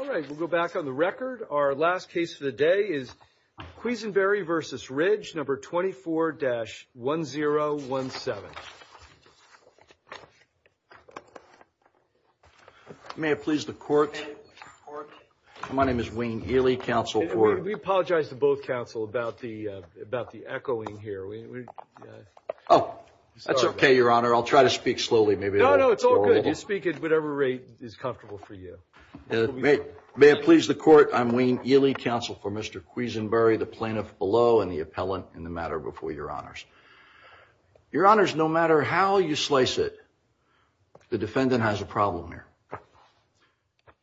All right, we'll go back on the record. Our last case for the day is Quisenberry v. Ridge, No. 24-1017. May it please the court, my name is Wayne Ely, counsel for... We apologize to both counsel about the echoing here. Oh, that's okay, Your Honor. I'll try to speak slowly. No, no, it's all good. You speak at whatever rate is comfortable for you. May it please the court, I'm Wayne Ely, counsel for Mr. Quisenberry, the plaintiff below and the appellant in the matter before Your Honors. Your Honors, no matter how you slice it, the defendant has a problem here.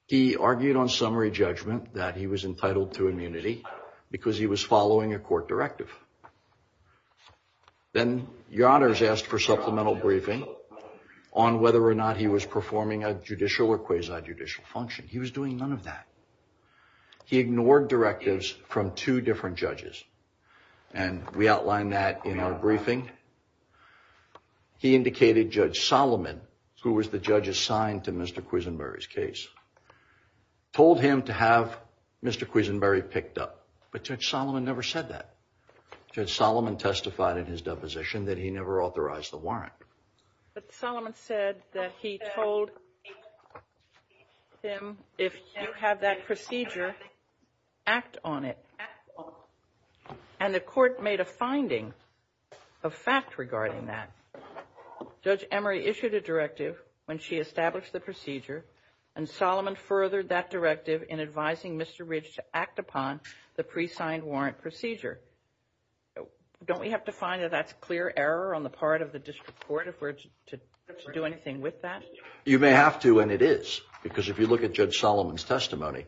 He argued on summary judgment that he was entitled to immunity because he was following a court directive. Then Your Honors asked for supplemental briefing on whether or not he was performing a judicial or quasi-judicial function. He was doing none of that. He ignored directives from two different judges, and we outlined that in our briefing. He indicated Judge Solomon, who was the judge assigned to Mr. Quisenberry's case, told him to have Mr. Quisenberry picked up. But Judge Solomon never said that. Judge Solomon testified in his deposition that he never authorized the warrant. But Solomon said that he told him, if you have that procedure, act on it. And the court made a finding of fact regarding that. Judge Emery issued a directive when she established the procedure, and Solomon furthered that directive in advising Mr. Ridge to act upon the pre-signed warrant procedure. Don't we have to find that that's clear error on the part of the district court if we're to do anything with that? You may have to, and it is, because if you look at Judge Solomon's testimony,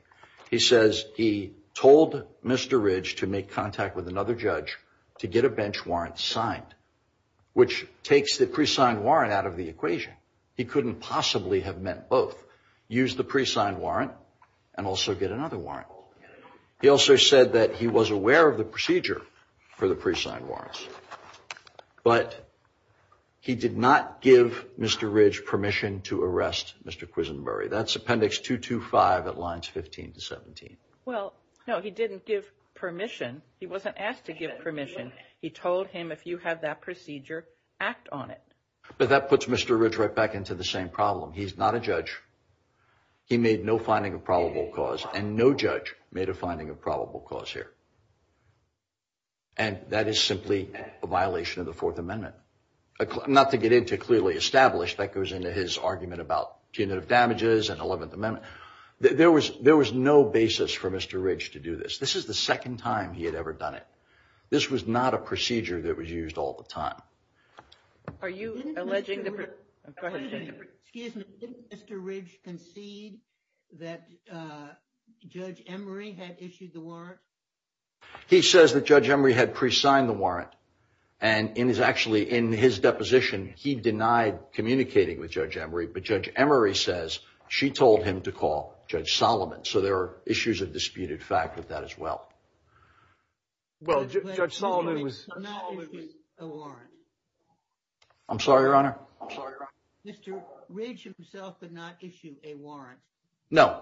he says he told Mr. Ridge to make contact with another judge to get a bench warrant signed, which takes the pre-signed warrant out of the equation. He couldn't possibly have meant both. Use the pre-signed warrant and also get another warrant. He also said that he was aware of the procedure for the pre-signed warrants, but he did not give Mr. Ridge permission to arrest Mr. Quisenberry. That's Appendix 225 at lines 15 to 17. Well, no, he didn't give permission. He wasn't asked to give permission. He told him, if you have that procedure, act on it. But that puts Mr. Ridge right back into the same problem. He's not a judge. He made no finding of probable cause, and no judge made a finding of probable cause here. And that is simply a violation of the Fourth Amendment. Not to get into clearly established, that goes into his argument about punitive damages and Eleventh Amendment. There was no basis for Mr. Ridge to do this. This is the second time he had ever done it. This was not a procedure that was used all the time. Excuse me, didn't Mr. Ridge concede that Judge Emery had issued the warrant? He says that Judge Emery had pre-signed the warrant. And in his deposition, he denied communicating with Judge Emery, but Judge Emery says she told him to call Judge Solomon. So there are issues of disputed fact with that as well. Well, Judge Solomon was not issued a warrant. I'm sorry, Your Honor. Mr. Ridge himself did not issue a warrant. No,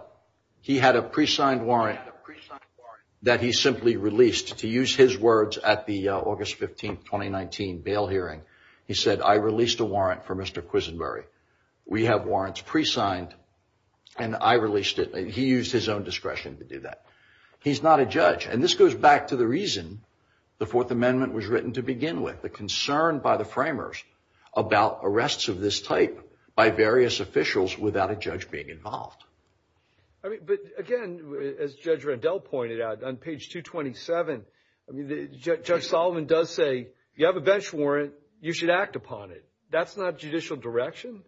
he had a pre-signed warrant that he simply released. To use his words at the August 15, 2019, bail hearing, he said, I released a warrant for Mr. Quisenbury. We have warrants pre-signed and I released it. He used his own discretion to do that. He's not a judge. And this goes back to the reason the Fourth Amendment was written to begin with. The concern by the framers about arrests of this type by various officials without a judge being involved. But again, as Judge Rendell pointed out on page 227, Judge Solomon does say you have a bench warrant. You should act upon it. That's not judicial direction.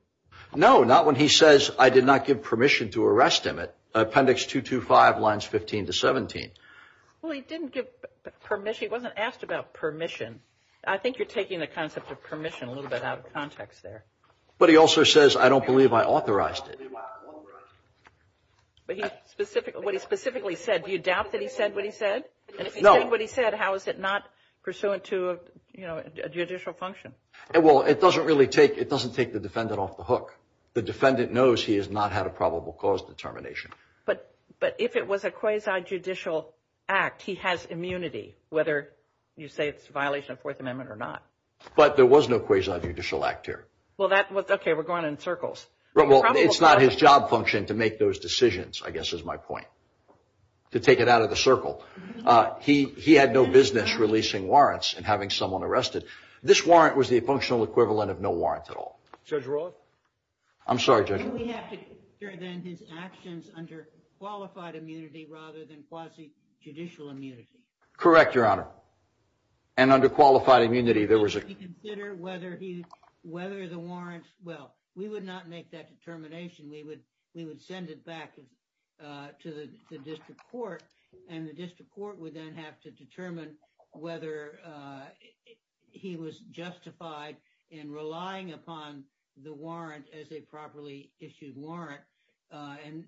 No, not when he says I did not give permission to arrest him. Appendix 225 lines 15 to 17. Well, he didn't give permission. He wasn't asked about permission. I think you're taking the concept of permission a little bit out of context there. But he also says I don't believe I authorized it. But what he specifically said, do you doubt that he said what he said? No. If he said what he said, how is it not pursuant to a judicial function? Well, it doesn't really take the defendant off the hook. The defendant knows he has not had a probable cause determination. But if it was a quasi-judicial act, he has immunity, whether you say it's a violation of the Fourth Amendment or not. But there was no quasi-judicial act here. Okay, we're going in circles. It's not his job function to make those decisions, I guess is my point, to take it out of the circle. He had no business releasing warrants and having someone arrested. This warrant was the functional equivalent of no warrant at all. Judge Roth? I'm sorry, Judge. Do we have to consider then his actions under qualified immunity rather than quasi-judicial immunity? Correct, Your Honor. And under qualified immunity, there was a – Do we have to consider whether the warrant – well, we would not make that determination. We would send it back to the district court. And the district court would then have to determine whether he was justified in relying upon the warrant as a properly issued warrant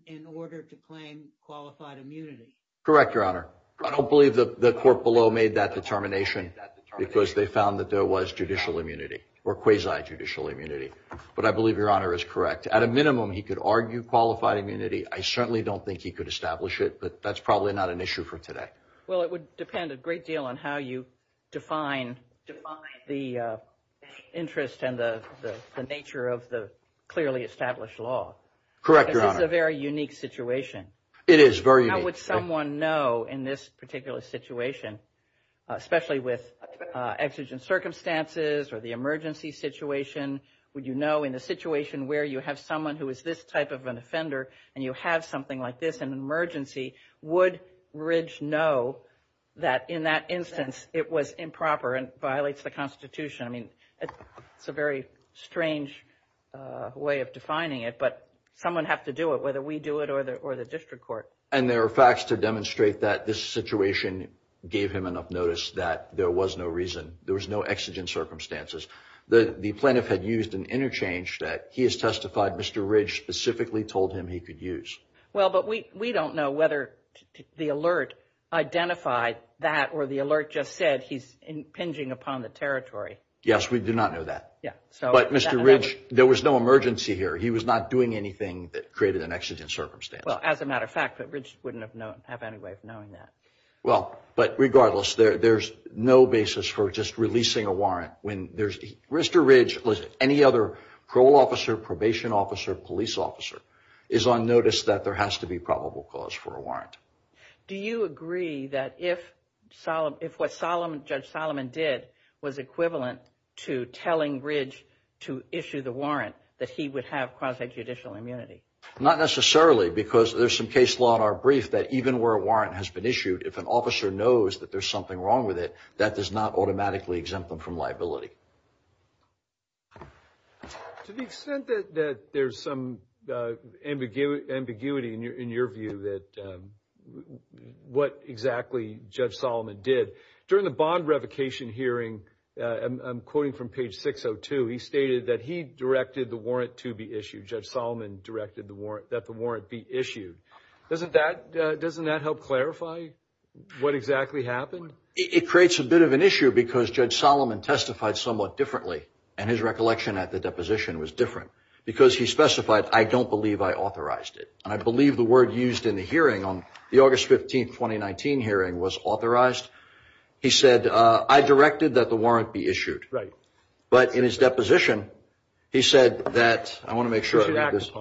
in order to claim qualified immunity. Correct, Your Honor. I don't believe the court below made that determination because they found that there was judicial immunity or quasi-judicial immunity. But I believe Your Honor is correct. At a minimum, he could argue qualified immunity. I certainly don't think he could establish it, but that's probably not an issue for today. Well, it would depend a great deal on how you define the interest and the nature of the clearly established law. Correct, Your Honor. Because this is a very unique situation. It is very unique. How would someone know in this particular situation, especially with exigent circumstances or the emergency situation, would you know in a situation where you have someone who is this type of an offender and you have something like this in an emergency, would Ridge know that in that instance it was improper and violates the Constitution? I mean, it's a very strange way of defining it, but someone would have to do it, whether we do it or the district court. And there are facts to demonstrate that this situation gave him enough notice that there was no reason. There was no exigent circumstances. The plaintiff had used an interchange that he has testified Mr. Ridge specifically told him he could use. Well, but we don't know whether the alert identified that or the alert just said he's impinging upon the territory. Yes, we do not know that. But Mr. Ridge, there was no emergency here. He was not doing anything that created an exigent circumstance. Well, as a matter of fact, but Ridge wouldn't have any way of knowing that. Well, but regardless, there's no basis for just releasing a warrant. Mr. Ridge, any other parole officer, probation officer, police officer, is on notice that there has to be probable cause for a warrant. Do you agree that if what Judge Solomon did was equivalent to telling Ridge to issue the warrant, that he would have quasi-judicial immunity? Not necessarily, because there's some case law in our brief that even where a warrant has been issued, if an officer knows that there's something wrong with it, that does not automatically exempt them from liability. To the extent that there's some ambiguity in your view that what exactly Judge Solomon did, during the bond revocation hearing, I'm quoting from page 602, he stated that he directed the warrant to be issued. Judge Solomon directed that the warrant be issued. Doesn't that help clarify what exactly happened? It creates a bit of an issue, because Judge Solomon testified somewhat differently, and his recollection at the deposition was different, because he specified, I don't believe I authorized it. And I believe the word used in the hearing on the August 15, 2019 hearing was authorized. He said, I directed that the warrant be issued. Right. But in his deposition, he said that, I want to make sure I read this.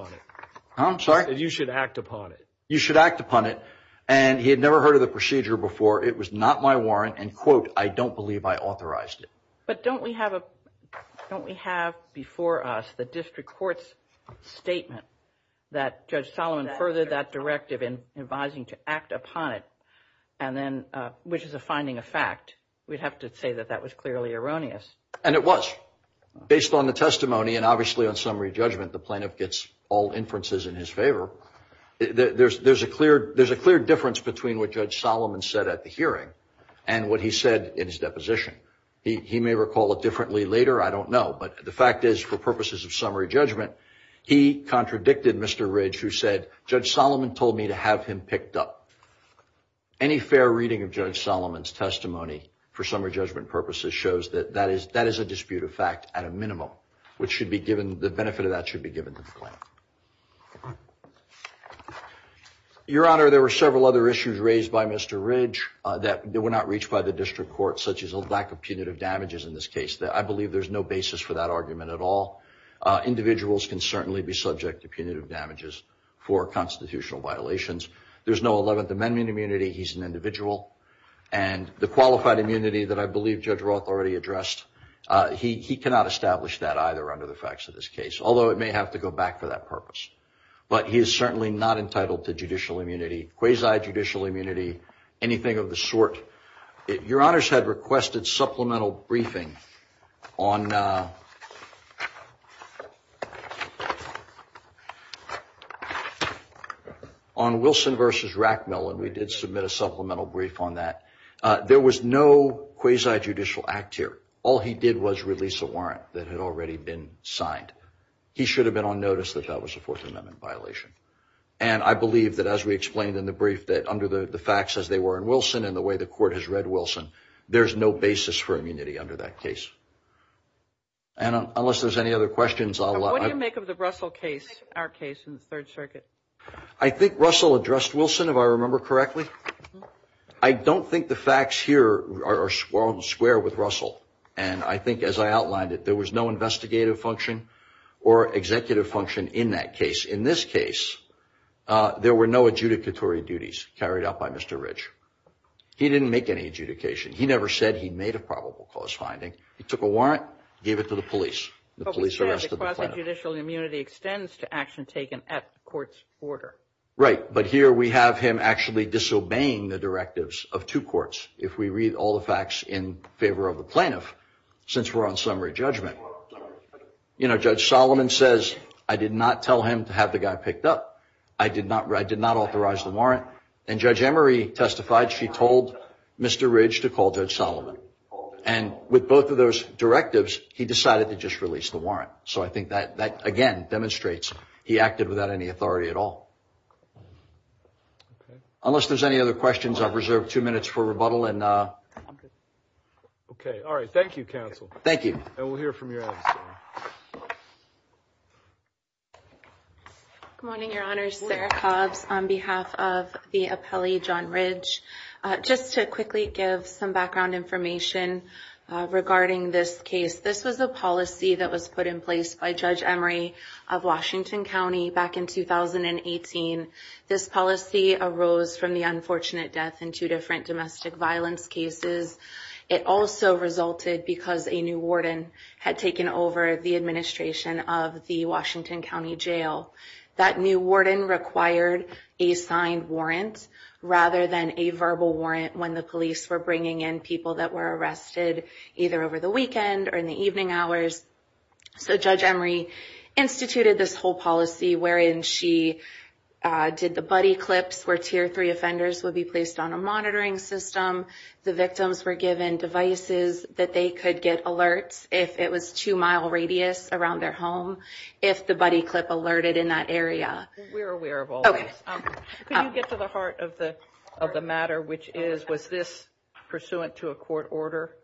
I'm sorry? You should act upon it. You should act upon it. And he had never heard of the procedure before. It was not my warrant, and, quote, I don't believe I authorized it. But don't we have before us the district court's statement that Judge Solomon furthered that directive in advising to act upon it, which is a finding of fact. We'd have to say that that was clearly erroneous. And it was. Based on the testimony, and obviously on summary judgment, the plaintiff gets all inferences in his favor. There's a clear difference between what Judge Solomon said at the hearing and what he said in his deposition. He may recall it differently later. I don't know. But the fact is, for purposes of summary judgment, he contradicted Mr. Ridge, who said, Judge Solomon told me to have him picked up. Any fair reading of Judge Solomon's testimony, for summary judgment purposes, shows that that is a dispute of fact at a minimum. The benefit of that should be given to the plaintiff. Your Honor, there were several other issues raised by Mr. Ridge that were not reached by the district court, such as a lack of punitive damages in this case. I believe there's no basis for that argument at all. Individuals can certainly be subject to punitive damages for constitutional violations. There's no 11th Amendment immunity. He's an individual. And the qualified immunity that I believe Judge Roth already addressed, he cannot establish that either under the facts of this case, although it may have to go back for that purpose. But he is certainly not entitled to judicial immunity, quasi-judicial immunity, anything of the sort. Your Honors had requested supplemental briefing on Wilson v. Rackmill, and we did submit a supplemental brief on that. There was no quasi-judicial act here. All he did was release a warrant that had already been signed. He should have been on notice that that was a Fourth Amendment violation. And I believe that, as we explained in the brief, that under the facts as they were in Wilson and the way the court has read Wilson, there's no basis for immunity under that case. And unless there's any other questions, I'll allow it. What do you make of the Russell case, our case in the Third Circuit? I think Russell addressed Wilson, if I remember correctly. I don't think the facts here are square with Russell. And I think, as I outlined it, there was no investigative function or executive function in that case. In this case, there were no adjudicatory duties carried out by Mr. Ridge. He didn't make any adjudication. He never said he made a probable cause finding. He took a warrant, gave it to the police, and the police arrested the plaintiff. But we said quasi-judicial immunity extends to action taken at court's order. Right, but here we have him actually disobeying the directives of two courts, if we read all the facts in favor of the plaintiff, since we're on summary judgment. You know, Judge Solomon says, I did not tell him to have the guy picked up. I did not authorize the warrant. And Judge Emery testified she told Mr. Ridge to call Judge Solomon. And with both of those directives, he decided to just release the warrant. So I think that, again, demonstrates he acted without any authority at all. Unless there's any other questions, I've reserved two minutes for rebuttal. Okay, all right. Thank you, counsel. Thank you. And we'll hear from your others. Good morning, Your Honors. Sarah Cobbs on behalf of the appellee, John Ridge. Just to quickly give some background information regarding this case, this was a policy that was put in place by Judge Emery of Washington County back in 2018. This policy arose from the unfortunate death in two different domestic violence cases. It also resulted because a new warden had taken over the administration of the Washington County Jail. That new warden required a signed warrant rather than a verbal warrant when the police were bringing in people that were arrested either over the weekend or in the evening hours. So Judge Emery instituted this whole policy wherein she did the buddy clips where Tier 3 offenders would be placed on a monitoring system. The victims were given devices that they could get alerts if it was two-mile radius around their home, if the buddy clip alerted in that area. We're aware of all this. Can you get to the heart of the matter, which is, was this pursuant to a court order?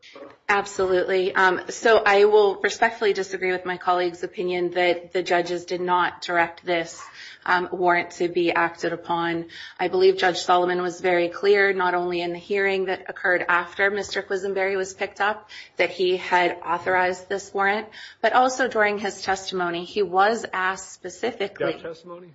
Absolutely. So I will respectfully disagree with my colleague's opinion that the judges did not direct this warrant to be acted upon. I believe Judge Solomon was very clear, not only in the hearing that occurred after Mr. Quisenberry was picked up, that he had authorized this warrant, but also during his testimony, he was asked specifically. That testimony?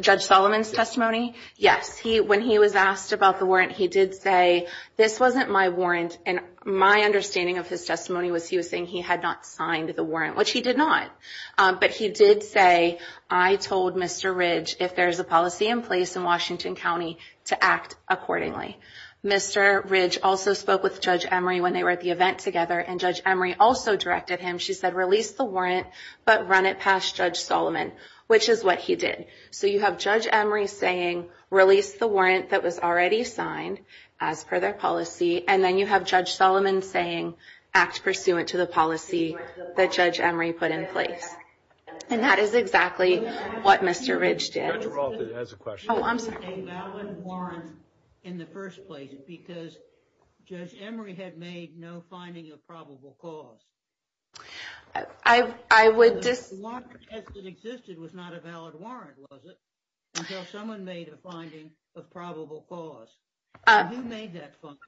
Judge Solomon's testimony, yes. When he was asked about the warrant, he did say, this wasn't my warrant. And my understanding of his testimony was he was saying he had not signed the warrant, which he did not. But he did say, I told Mr. Ridge, if there's a policy in place in Washington County, to act accordingly. Mr. Ridge also spoke with Judge Emery when they were at the event together, and Judge Emery also directed him, she said, release the warrant, but run it past Judge Solomon, which is what he did. So you have Judge Emery saying, release the warrant that was already signed, as per their policy, and then you have Judge Solomon saying, act pursuant to the policy that Judge Emery put in place. And that is exactly what Mr. Ridge did. Judge Rolfe has a question. Oh, I'm sorry. Was it a valid warrant in the first place, because Judge Emery had made no finding of probable cause? I would just – The warrant that existed was not a valid warrant, was it, until someone made a finding of probable cause. Who made that finding?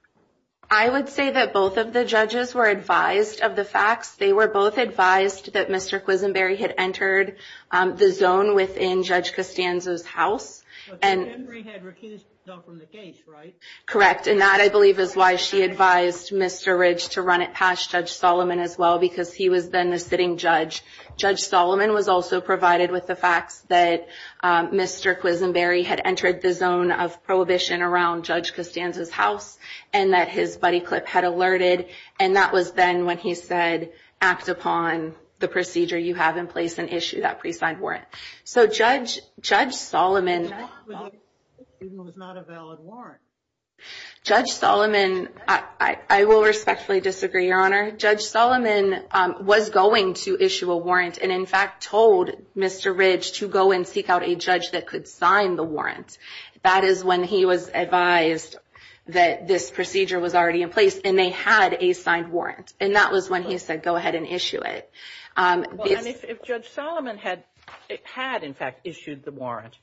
I would say that both of the judges were advised of the facts. They were both advised that Mr. Quisenberry had entered the zone within Judge Costanzo's house. But Judge Emery had recused himself from the case, right? Correct. And that, I believe, is why she advised Mr. Ridge to run it past Judge Solomon as well, because he was then the sitting judge. Judge Solomon was also provided with the facts that Mr. Quisenberry had entered the zone of prohibition around Judge Costanzo's house and that his buddy, Clip, had alerted. And that was then when he said, act upon the procedure you have in place and issue that pre-signed warrant. So Judge Solomon – The warrant that existed was not a valid warrant. Judge Solomon – I will respectfully disagree, Your Honor. Judge Solomon was going to issue a warrant and, in fact, told Mr. Ridge to go and seek out a judge that could sign the warrant. That is when he was advised that this procedure was already in place and they had a signed warrant. And that was when he said, go ahead and issue it. If Judge Solomon had, in fact, issued the warrant,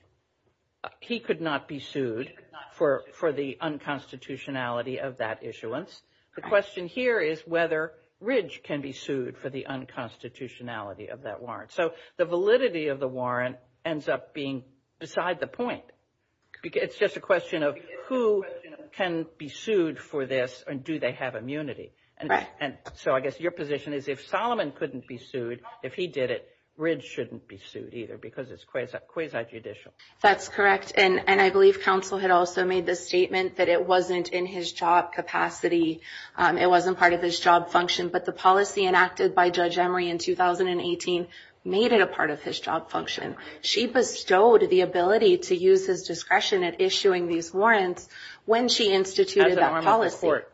he could not be sued for the unconstitutionality of that issuance. The question here is whether Ridge can be sued for the unconstitutionality of that warrant. So the validity of the warrant ends up being beside the point. It's just a question of who can be sued for this and do they have immunity. And so I guess your position is if Solomon couldn't be sued, if he did it, Ridge shouldn't be sued either because it's quasi-judicial. That's correct. And I believe counsel had also made the statement that it wasn't in his job capacity. It wasn't part of his job function. But the policy enacted by Judge Emery in 2018 made it a part of his job function. She bestowed the ability to use his discretion at issuing these warrants when she instituted that policy. As a norm of the court.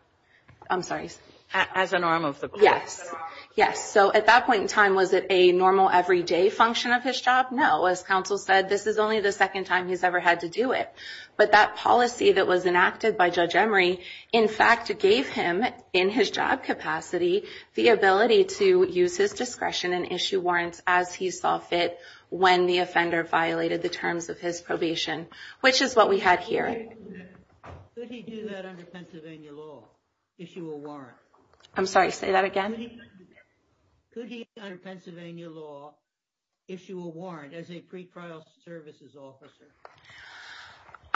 I'm sorry. As a norm of the court. Yes. Yes. So at that point in time, was it a normal, everyday function of his job? No. As counsel said, this is only the second time he's ever had to do it. But that policy that was enacted by Judge Emery, in fact, gave him, in his job capacity, the ability to use his discretion and issue warrants as he saw fit when the offender violated the terms of his probation. Which is what we had here. Could he do that under Pennsylvania law? Issue a warrant? I'm sorry. Say that again. Could he, under Pennsylvania law, issue a warrant as a pre-trial services officer?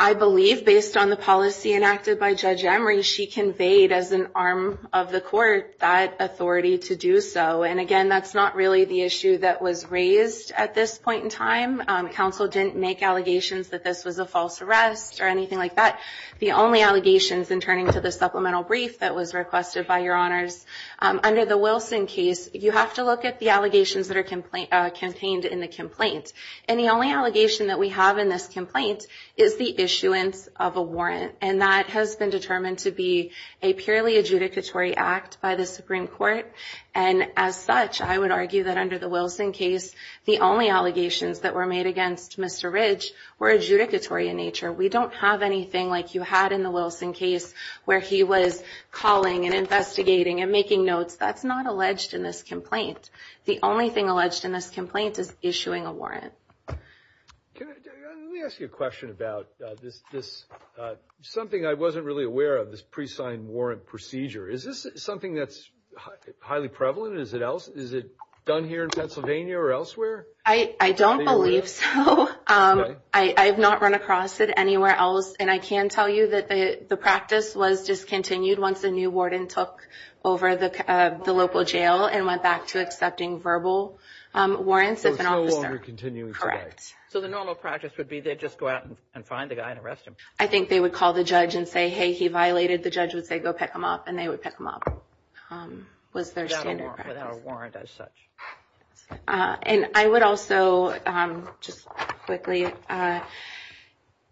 I believe, based on the policy enacted by Judge Emery, she conveyed as an arm of the court that authority to do so. And, again, that's not really the issue that was raised at this point in time. Counsel didn't make allegations that this was a false arrest or anything like that. The only allegations, in turning to the supplemental brief that was requested by Your Honors, under the Wilson case, you have to look at the allegations that are campaigned in the complaint. And the only allegation that we have in this complaint is the issuance of a warrant. And that has been determined to be a purely adjudicatory act by the Supreme Court. And, as such, I would argue that under the Wilson case, the only allegations that were made against Mr. Ridge were adjudicatory in nature. We don't have anything like you had in the Wilson case where he was calling and investigating and making notes. That's not alleged in this complaint. The only thing alleged in this complaint is issuing a warrant. Let me ask you a question about this, something I wasn't really aware of, this pre-signed warrant procedure. Is this something that's highly prevalent? Is it done here in Pennsylvania or elsewhere? I don't believe so. I have not run across it anywhere else. And I can tell you that the practice was discontinued once a new warden took over the local jail and went back to accepting verbal warrants. So it's no longer continuing today? Correct. So the normal practice would be they'd just go out and find the guy and arrest him? I think they would call the judge and say, hey, he violated. The judge would say, go pick him up, and they would pick him up, was their standard practice. Without a warrant as such. And I would also just quickly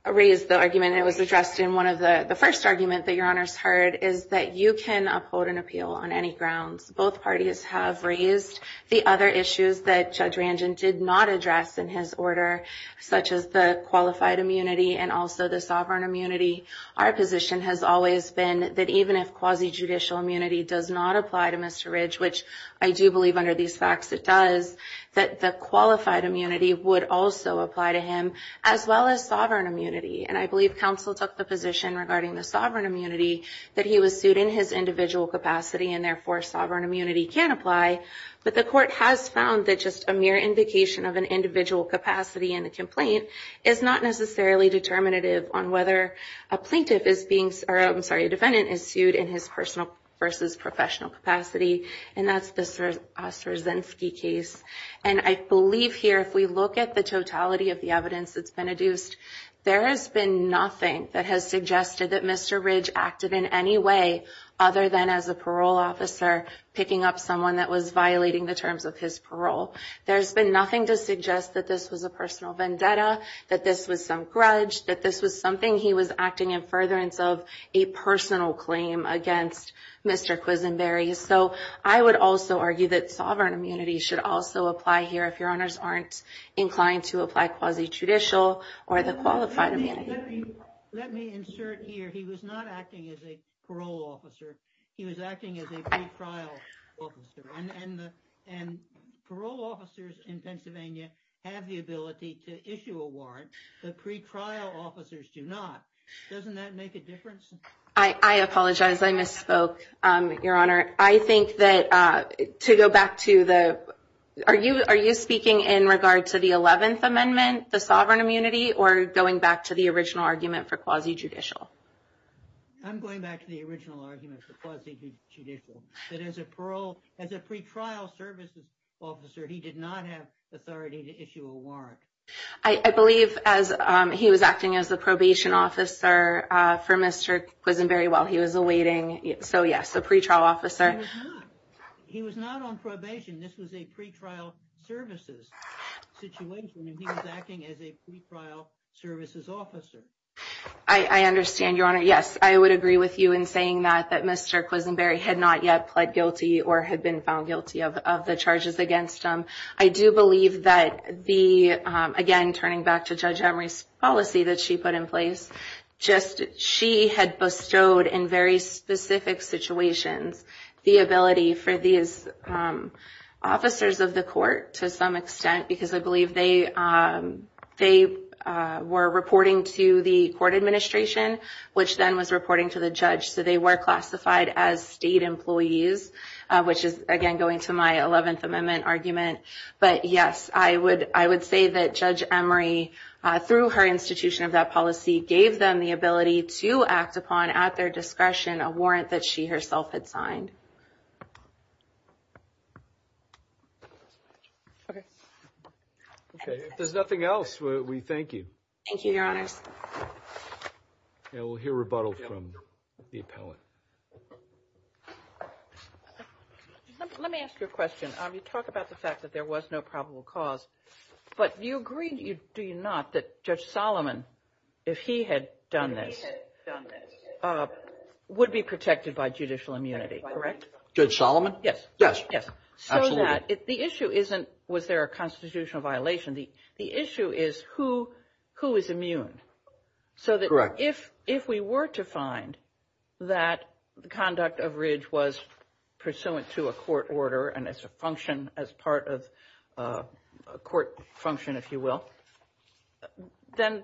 raise the argument. It was addressed in one of the first arguments that Your Honors heard, is that you can uphold an appeal on any grounds. Both parties have raised the other issues that Judge Ranjan did not address in his order, such as the qualified immunity and also the sovereign immunity. Our position has always been that even if quasi-judicial immunity does not apply to Mr. Ridge, which I do believe under these facts it does, that the qualified immunity would also apply to him, as well as sovereign immunity. And I believe counsel took the position regarding the sovereign immunity that he was sued in his individual capacity, and therefore sovereign immunity can apply. But the court has found that just a mere indication of an individual capacity in a complaint is not necessarily determinative on whether a plaintiff is being sued, or I'm sorry, a defendant is sued in his personal versus professional capacity. And that's the Osrazynski case. And I believe here, if we look at the totality of the evidence that's been adduced, there has been nothing that has suggested that Mr. Ridge acted in any way other than as a parole officer picking up someone that was violating the terms of his parole. There's been nothing to suggest that this was a personal vendetta, that this was some grudge, that this was something he was acting in furtherance of a personal claim against Mr. Quisenberry. So I would also argue that sovereign immunity should also apply here if Your Honors aren't inclined to apply quasi-judicial or the qualified immunity. Let me insert here, he was not acting as a parole officer. He was acting as a pre-trial officer. And parole officers in Pennsylvania have the ability to issue a warrant. The pre-trial officers do not. Doesn't that make a difference? I apologize. I misspoke, Your Honor. I think that to go back to the – are you speaking in regard to the 11th Amendment, the sovereign immunity, or going back to the original argument for quasi-judicial? I'm going back to the original argument for quasi-judicial. That as a pre-trial services officer, he did not have authority to issue a warrant. I believe he was acting as a probation officer for Mr. Quisenberry while he was awaiting. So, yes, a pre-trial officer. He was not on probation. This was a pre-trial services situation, and he was acting as a pre-trial services officer. I understand, Your Honor. Yes, I would agree with you in saying that Mr. Quisenberry had not yet pled guilty or had been found guilty of the charges against him. I do believe that the – again, turning back to Judge Emory's policy that she put in place, just she had bestowed in very specific situations the ability for these officers of the court to some extent, because I believe they were reporting to the court administration, which then was reporting to the judge. So they were classified as state employees, which is, again, going to my 11th Amendment argument. But, yes, I would say that Judge Emory, through her institution of that policy, gave them the ability to act upon at their discretion a warrant that she herself had signed. Okay. If there's nothing else, we thank you. Thank you, Your Honors. And we'll hear rebuttal from the appellant. Let me ask you a question. You talk about the fact that there was no probable cause, but you agree, do you not, that Judge Solomon, if he had done this, would be protected by judicial immunity, correct? Judge Solomon? Yes. Yes. Absolutely. The issue isn't was there a constitutional violation. The issue is who is immune. Correct. So if we were to find that the conduct of Ridge was pursuant to a court order and as a function as part of a court function, if you will, then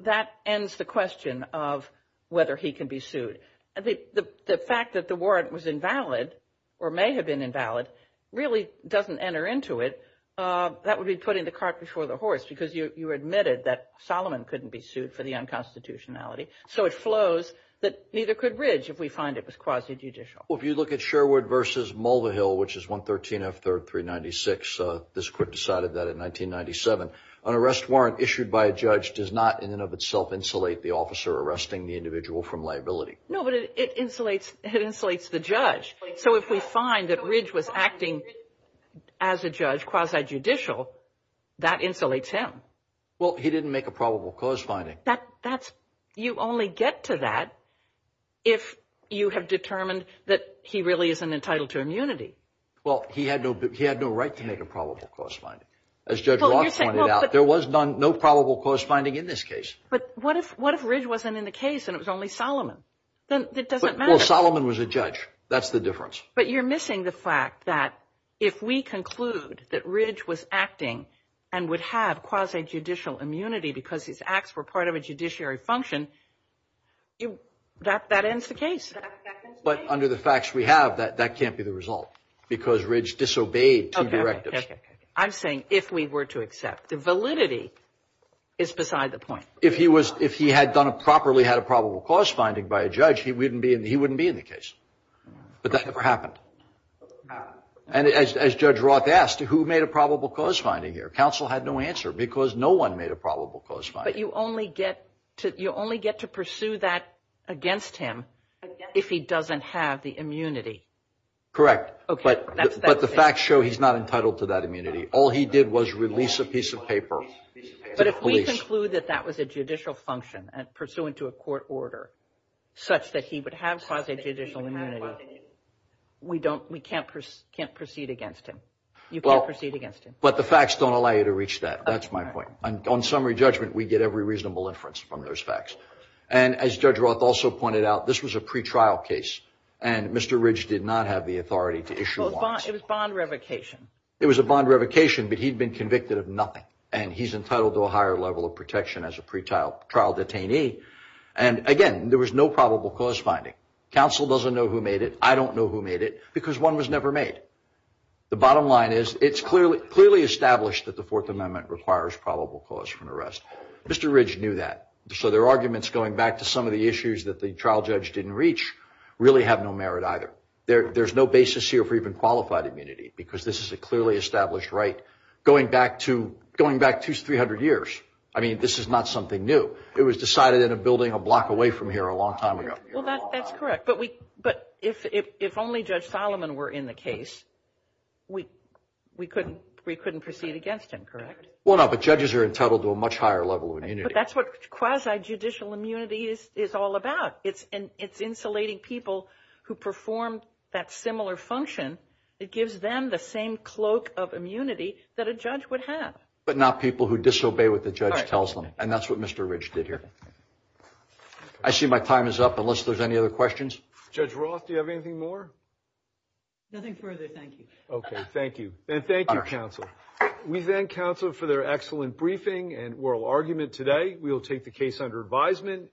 that ends the question of whether he can be sued. The fact that the warrant was invalid or may have been invalid really doesn't enter into it. That would be putting the cart before the horse, because you admitted that Solomon couldn't be sued for the unconstitutionality. So it flows that neither could Ridge if we find it was quasi-judicial. Well, if you look at Sherwood v. Mulvihill, which is 113 F. 3rd 396, this court decided that in 1997, an arrest warrant issued by a judge does not in and of itself insulate the officer arresting the individual from liability. No, but it insulates the judge. So if we find that Ridge was acting as a judge quasi-judicial, that insulates him. Well, he didn't make a probable cause finding. You only get to that if you have determined that he really isn't entitled to immunity. Well, he had no right to make a probable cause finding. As Judge Roth pointed out, there was no probable cause finding in this case. But what if Ridge wasn't in the case and it was only Solomon? Then it doesn't matter. Well, Solomon was a judge. That's the difference. But you're missing the fact that if we conclude that Ridge was acting and would have quasi-judicial immunity because his acts were part of a judiciary function, that ends the case. But under the facts we have, that can't be the result because Ridge disobeyed two directives. I'm saying if we were to accept. Validity is beside the point. If he had properly had a probable cause finding by a judge, he wouldn't be in the case. But that never happened. And as Judge Roth asked, who made a probable cause finding here? Counsel had no answer because no one made a probable cause finding. But you only get to pursue that against him if he doesn't have the immunity. Correct. But the facts show he's not entitled to that immunity. All he did was release a piece of paper. But if we conclude that that was a judicial function pursuant to a court order such that he would have quasi-judicial immunity, we can't proceed against him. You can't proceed against him. But the facts don't allow you to reach that. That's my point. On summary judgment, we get every reasonable inference from those facts. And as Judge Roth also pointed out, this was a pretrial case. And Mr. Ridge did not have the authority to issue one. It was bond revocation. It was a bond revocation, but he'd been convicted of nothing. And he's entitled to a higher level of protection as a pretrial trial detainee. And, again, there was no probable cause finding. Counsel doesn't know who made it. I don't know who made it because one was never made. The bottom line is it's clearly established that the Fourth Amendment requires probable cause for an arrest. Mr. Ridge knew that. So their arguments going back to some of the issues that the trial judge didn't reach really have no merit either. There's no basis here for even qualified immunity because this is a clearly established right going back to 300 years. I mean, this is not something new. It was decided in a building a block away from here a long time ago. Well, that's correct. But if only Judge Solomon were in the case, we couldn't proceed against him, correct? Well, no, but judges are entitled to a much higher level of immunity. But that's what quasi-judicial immunity is all about. It's insulating people who perform that similar function. It gives them the same cloak of immunity that a judge would have. But not people who disobey what the judge tells them, and that's what Mr. Ridge did here. I see my time is up unless there's any other questions. Judge Roth, do you have anything more? Nothing further. Thank you. Okay, thank you. And thank you, counsel. We thank counsel for their excellent briefing and oral argument today. We will take the case under advisement.